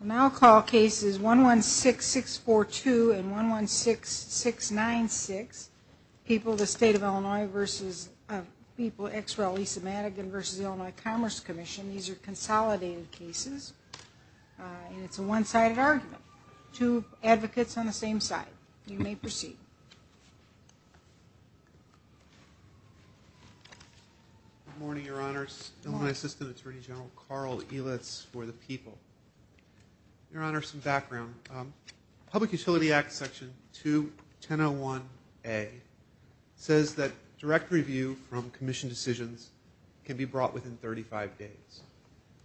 Now I'll call cases 116642 and 116696. People of the State of Illinois v. people ex rel. Lisa Madigan v. Illinois Commerce Commission. These are consolidated cases. It's a one sided argument. Two advocates on the same side. You may proceed. Good morning, your honors. Illinois Assistant Attorney General Carl Elitz for the people. Your honors, some background. Public Utility Act section 2101A says that direct review from commission decisions can be brought within 35 days.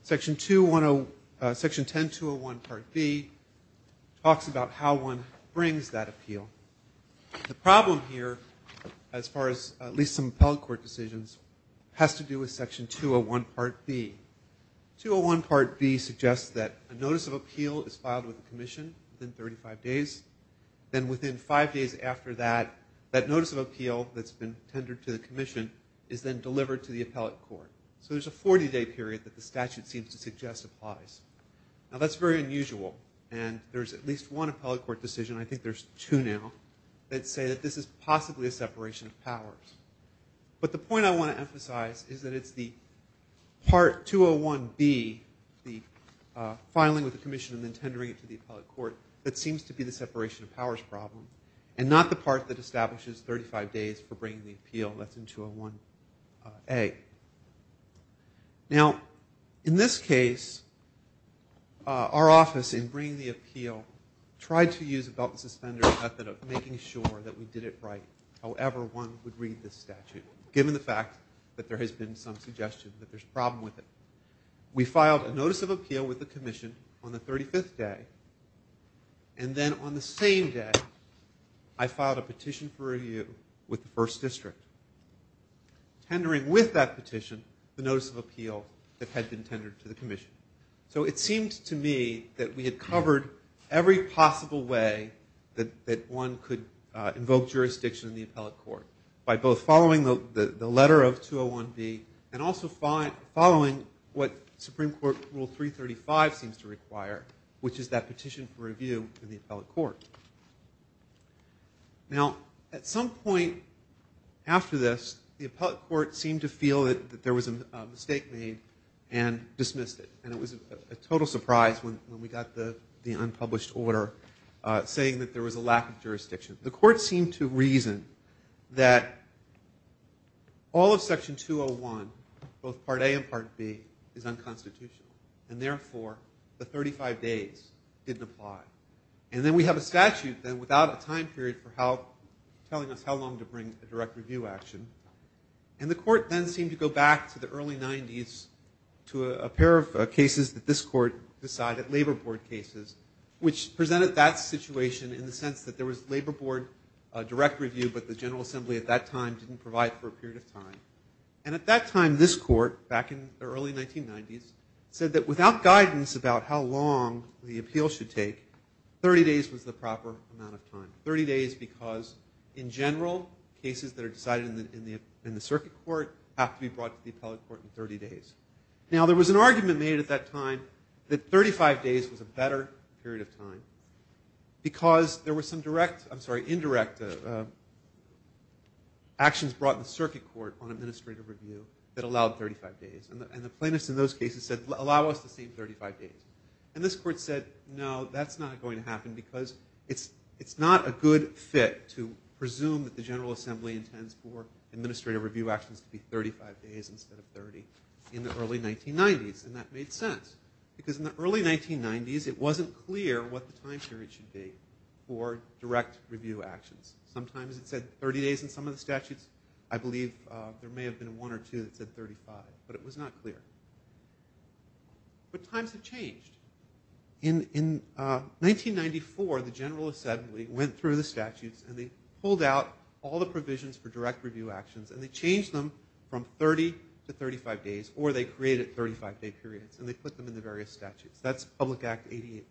Section 10201 part B talks about how one brings that appeal. The problem here, as far as at least some appellate court decisions, has to do with section 201 part B. 201 part B suggests that a notice of appeal is filed with the commission within 35 days. Then within five days after that, that notice of appeal that's been tendered to the commission is then delivered to the appellate court. So there's a 40 day period that the statute seems to suggest applies. Now that's very unusual. And there's at least one appellate court decision. I think there's two now. That say that this is possibly a separation of powers. But the point I want to emphasize is that it's the part 201B, the filing with the commission and then tendering it to the appellate court, that seems to be the separation of powers problem. And not the part that establishes 35 days for bringing the appeal. That's in 201A. Now, in this case, our office in bringing the appeal tried to use a belt and suspender method of bringing the appeal. Bringing appeal was a way of making sure that we did it right, however one would read this statute, given the fact that there has been some suggestion that there's a problem with it. We filed a notice of appeal with the commission on the 35th day. And then on the same day, I filed a petition for review with the first district, tendering with that petition the notice of appeal that had been tendered to the commission. So it seemed to me that we had covered every possible way that one could invoke jurisdiction in the appellate court, by both following the letter of 201B and also following what Supreme Court Rule 335 seems to require, which is that petition for review in the appellate court. Now, at some point after this, the appellate court seemed to feel that there was a mistake made and dismissed it. And it was a total surprise when we got the unpublished order saying that there was a lack of jurisdiction. The court seemed to reason that all of Section 201, both Part A and Part B, is unconstitutional. And therefore, the 35 days didn't apply. And then we have a statute then without a time period for telling us how long to bring a direct review action. And the court then seemed to go back to the early 90s to a pair of cases that this court decided, labor board cases, which presented that situation in the sense that there was labor board direct review, but the General Assembly at that time didn't provide for a period of time. And at that time, this court, back in the early 1990s, said that without guidance about how long the appeal should take, 30 days was the proper amount of time, 30 days because in general, cases that are decided in the circuit court have to be brought to the appellate court in 30 days. Now, there was an argument made at that time that 35 days was a better period of time because there were some indirect actions brought in the circuit court on administrative review that allowed 35 days. And the plaintiffs in those cases said, allow us the same 35 days. And this court said, no, that's not going to happen because it's not a good fit to presume that the General Assembly intends for administrative review actions to be 35 days instead of 30 in the early 1990s. And that made sense because in the early 1990s, it wasn't clear what the time period should be for direct review actions. Sometimes it said 30 days in some of the statutes. I believe there may have been one or two that said 35, but it was not clear. But times have changed. In 1994, the General Assembly went through the statutes and they pulled out all the provisions for direct review actions and they changed them from 30 to 35 days or they created 35-day periods and they put them in the various statutes. That's Public Act 88-1.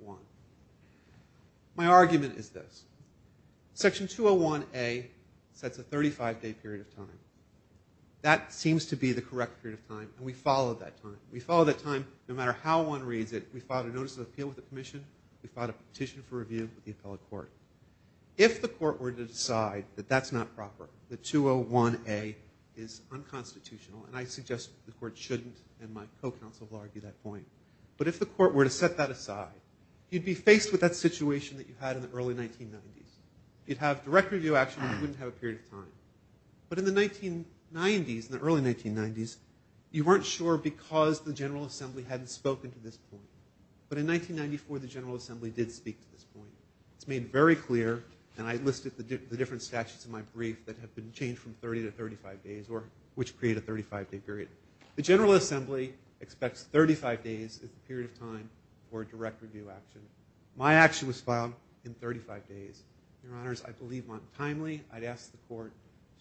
My argument is this. Section 201A sets a 35-day period of time. That seems to be the correct period of time, and we followed that time. We followed that time no matter how one reads it. We filed a notice of appeal with the permission. We filed a petition for review with the appellate court. If the court were to decide that that's not proper, that 201A is unconstitutional, and I suggest the court shouldn't and my co-counsel will argue that point, but if the court were to set that aside, you'd be faced with that situation that you had in the early 1990s. You'd have direct review action and you wouldn't have a period of time. But in the 1990s, in the early 1990s, you weren't sure because the General Assembly hadn't spoken to this point. But in 1994, the General Assembly did speak to this point. It's made very clear, and I listed the different statutes in my brief that have been changed from 30 to 35 days or which create a 35-day period. The General Assembly expects 35 days as the period of time for direct review action. My action was filed in 35 days. Your Honors, I believe, timely, I'd ask the court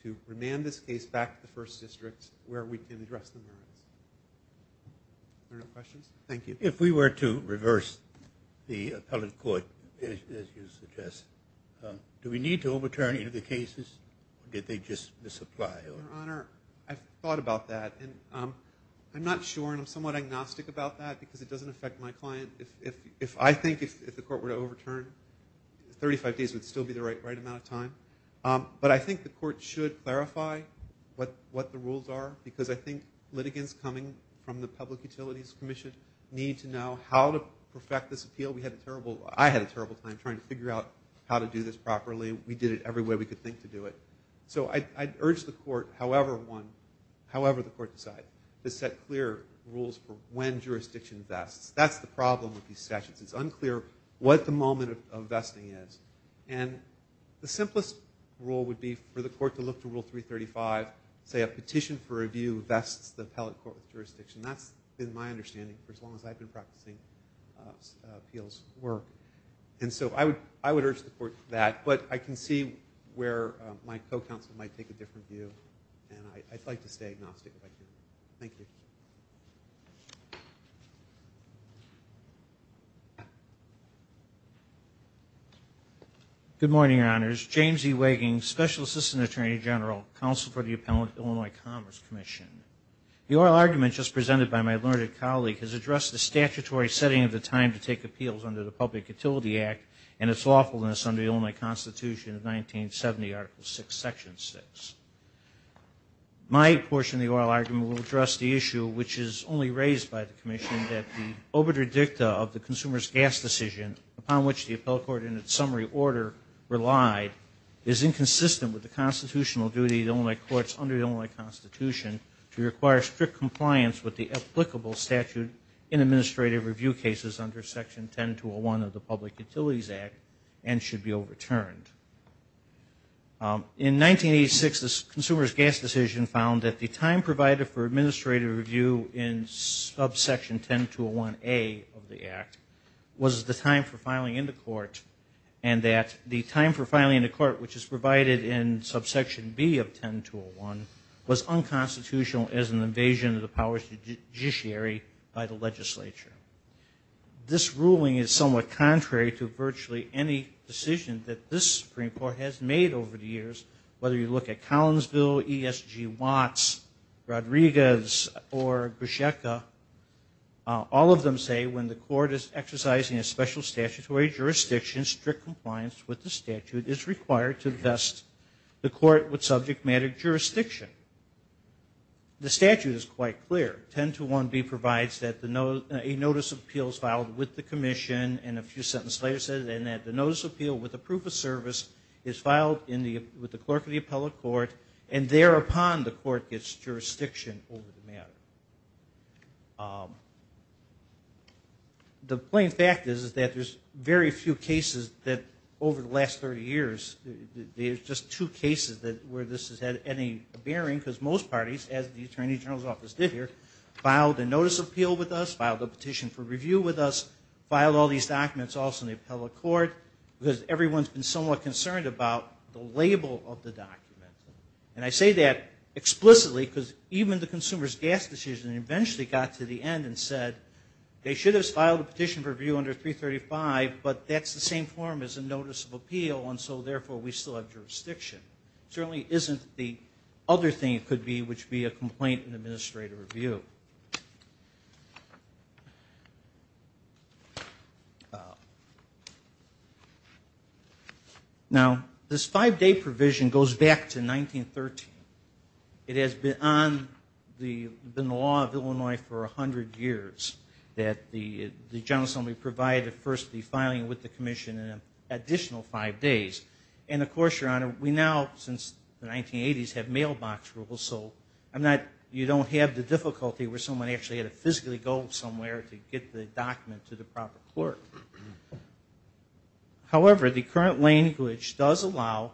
to remand this case back to the First District where we can address the merits. Are there no questions? Thank you. If we were to reverse the appellate court, as you suggest, do we need to overturn any of the cases or did they just misapply? Your Honor, I've thought about that. I'm not sure and I'm somewhat agnostic about that because it doesn't affect my client. I think if the court were to overturn, 35 days would still be the right amount of time. But I think the court should clarify what the rules are because I think litigants coming from the Public Utilities Commission need to know how to perfect this appeal. I had a terrible time trying to figure out how to do this properly. We did it every way we could think to do it. So I'd urge the court, however the court decides, to set clear rules for when jurisdiction vests. That's the problem with these statutes. It's unclear what the moment of vesting is. And the simplest rule would be for the court to look to Rule 335, say a petition for review vests the appellate court with jurisdiction. That's been my understanding for as long as I've been practicing appeals work. And so I would urge the court that. But I can see where my co-counsel might take a different view. And I'd like to stay agnostic if I can. Thank you. Good morning, Your Honors. James E. Waging, Special Assistant Attorney General, Counsel for the Appellant, Illinois Commerce Commission. The oral argument just presented by my learned colleague has addressed the statutory setting of the time to take appeals under the Public Utility Act and its lawfulness under the Illinois Constitution of 1970, Article 6, Section 6. My portion of the oral argument will address the issue, which is only raised by the commission, that the obituary dicta of the consumer's gas decision, upon which the appellate court in its summary order relied, is inconsistent with the constitutional duty of the Illinois courts under the Illinois Constitution to require strict compliance with the applicable statute in administrative review cases under Section 10201 of the Public Utilities Act and should be overturned. In 1986, the consumer's gas decision found that the time provided for administrative review in subsection 10201A of the act was the time for filing in the court and that the time for filing in the court, which is provided in subsection B of 10201, was unconstitutional as an invasion of the powers of the judiciary by the legislature. This ruling is somewhat contrary to virtually any decision that this Supreme Court has made over the years, whether you look at Collinsville, ESG Watts, Rodriguez, or Busheka. All of them say when the court is exercising a special statutory jurisdiction, strict compliance with the statute is required to vest the court with subject matter jurisdiction. The statute is quite clear. 1021B provides that a notice of appeal is filed with the commission and a few sentences later says that the notice of appeal with the proof of service is filed with the clerk of the appellate court and thereupon the court gets jurisdiction over the matter. The plain fact is that there's very few cases that over the last 30 years, there's just two cases where this has had any bearing because most parties, as the Attorney General's Office did here, filed a notice of appeal with us, filed a petition for review with us, filed all these documents also in the appellate court because everyone's been somewhat concerned about the label of the document. And I say that explicitly because even the consumer's gas decision eventually got to the end and said they should have filed a petition for review under 335, but that's the same form as a notice of appeal and so therefore we still have jurisdiction. It certainly isn't the other thing it could be, which would be a complaint in administrative review. Now, this five-day provision goes back to 1913. It has been on the law of Illinois for 100 years that the General Assembly provide first the filing with the commission and an additional five days. And of course, Your Honor, we now since the 1980s have mailbox rules, so you don't have the difficulty where someone actually had to physically go somewhere to get the document to the proper court. However, the current language does allow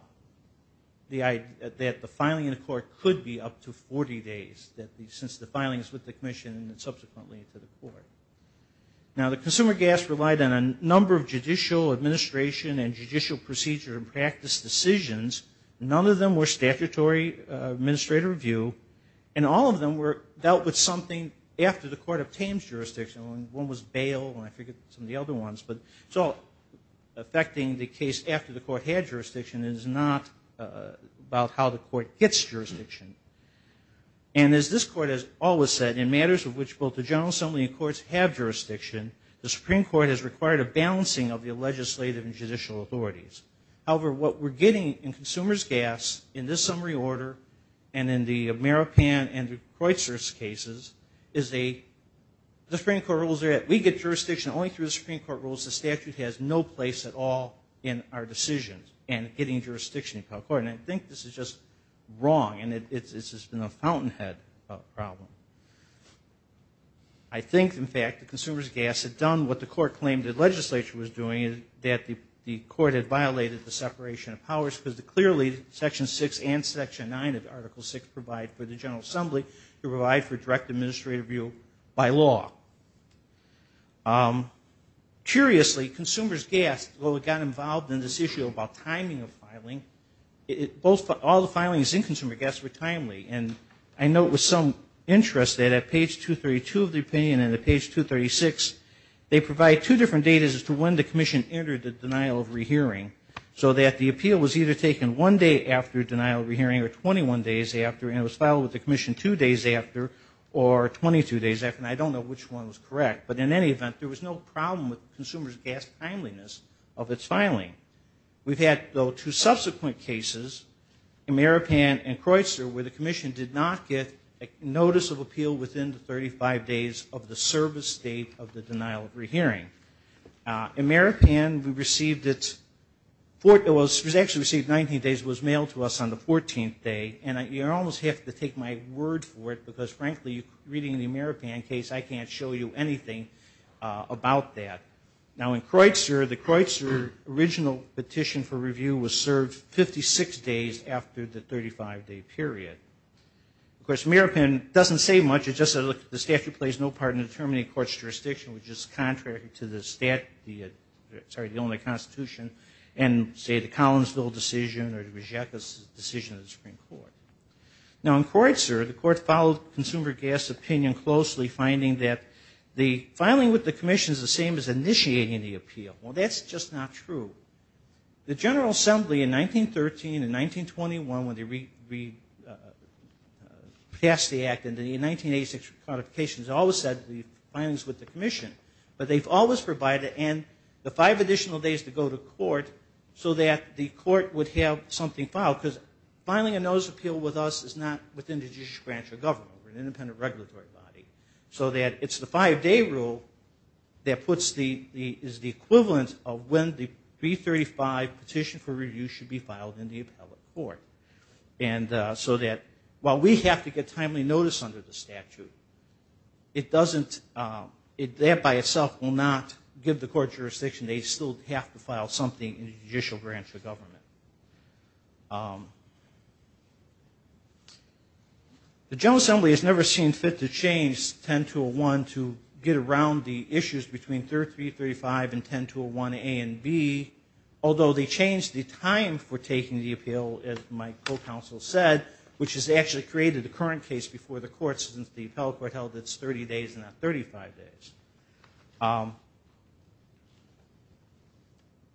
that the filing in the court could be up to 40 days since the filing is with the commission and subsequently to the court. Now, the consumer gas relied on a number of judicial administration and judicial procedure and practice decisions. None of them were statutory administrative review. And all of them were dealt with something after the court obtains jurisdiction. One was bail and I forget some of the other ones, but it's all affecting the case after the court had jurisdiction. It is not about how the court gets jurisdiction. And as this court has always said, in matters of which both the General Assembly and courts have jurisdiction, the Supreme Court has required a balancing of the legislative and judicial authorities. However, what we're getting in consumer's gas in this summary order and in the Maripan and the Kreutzer's cases is a, the Supreme Court rules are that we get jurisdiction only through the Supreme Court rules. The statute has no place at all in our decisions and getting jurisdiction to the court. And I think this is just wrong and it's just been a fountainhead problem. I think, in fact, the consumer's gas had done what the court claimed the legislature was doing, that the court had violated the separation of powers because clearly Section 6 and Section 9 of Article 6 provide for the General Assembly to provide for direct administrative review by law. Curiously, consumer's gas, well, it got involved in this issue about timing of filing. It, both, all the filings in consumer gas were timely. And I note with some interest that at page 232 of the opinion and at page 236, they provide two different data as to when the commission entered the denial of rehearing so that the appeal was either taken one day after denial of rehearing or 21 days after and it was filed with the commission two days after or 22 days after and I don't know which one was correct. But in any event, there was no problem with consumer's gas timeliness of its filing. We've had, though, two subsequent cases, Ameripan and Croyster, where the commission did not get a notice of appeal within the 35 days of the service date of the denial of rehearing. Ameripan, we received it, it was actually received 19 days, it was mailed to us on the 14th day and you almost have to take my word for it because, frankly, reading the Ameripan case, I can't show you anything about that. Now, in Croyster, the Croyster original petition for review was served 56 days after the 35-day period. Of course, Ameripan doesn't say much, it just says, look, the statute plays no part in determining a court's jurisdiction, which is contrary to the statute, sorry, the only constitution, and, say, the Collinsville decision or the Rejectus decision of the Supreme Court. Now, in Croyster, the court followed consumer gas opinion closely, finding that the filing with the commission is the same as initiating the appeal. Well, that's just not true. The General Assembly in 1913 and 1921, when they passed the Act, in the 1986 modifications, always said the filing's with the commission. But they've always provided, and the five additional days to go to court so that the court would have something filed because filing a notice of appeal with us is not within the judicial branch of government. We're an independent regulatory body. So that it's the five-day rule that is the equivalent of when the 335 petition for review should be filed in the appellate court. And so that while we have to get timely notice under the statute, it doesn't, that by itself will not give the court jurisdiction. They still have to file something in the judicial branch of government. The General Assembly has never seen fit to change 10201 to get around the issues between 335 and 10201A and B, although they changed the time for taking the appeal, as my co-counsel said, which has actually created the current case before the court since the appellate court held its 30 days and not 35 days.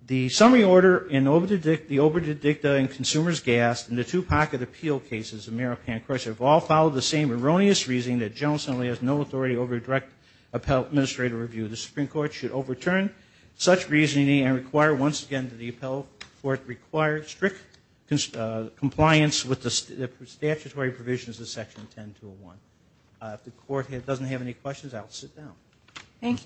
The summary order in the Obra Dicta and Consumer's Gas and the two-pocket appeal cases of Merrill Pankhurst have all followed the same erroneous reasoning that the General Assembly has no authority over direct appellate administrative review. The Supreme Court should overturn such reasoning and require once again that the appellate court require strict compliance with the statutory provisions of Section 10201. If the court doesn't have any questions, I will sit down. Thank you.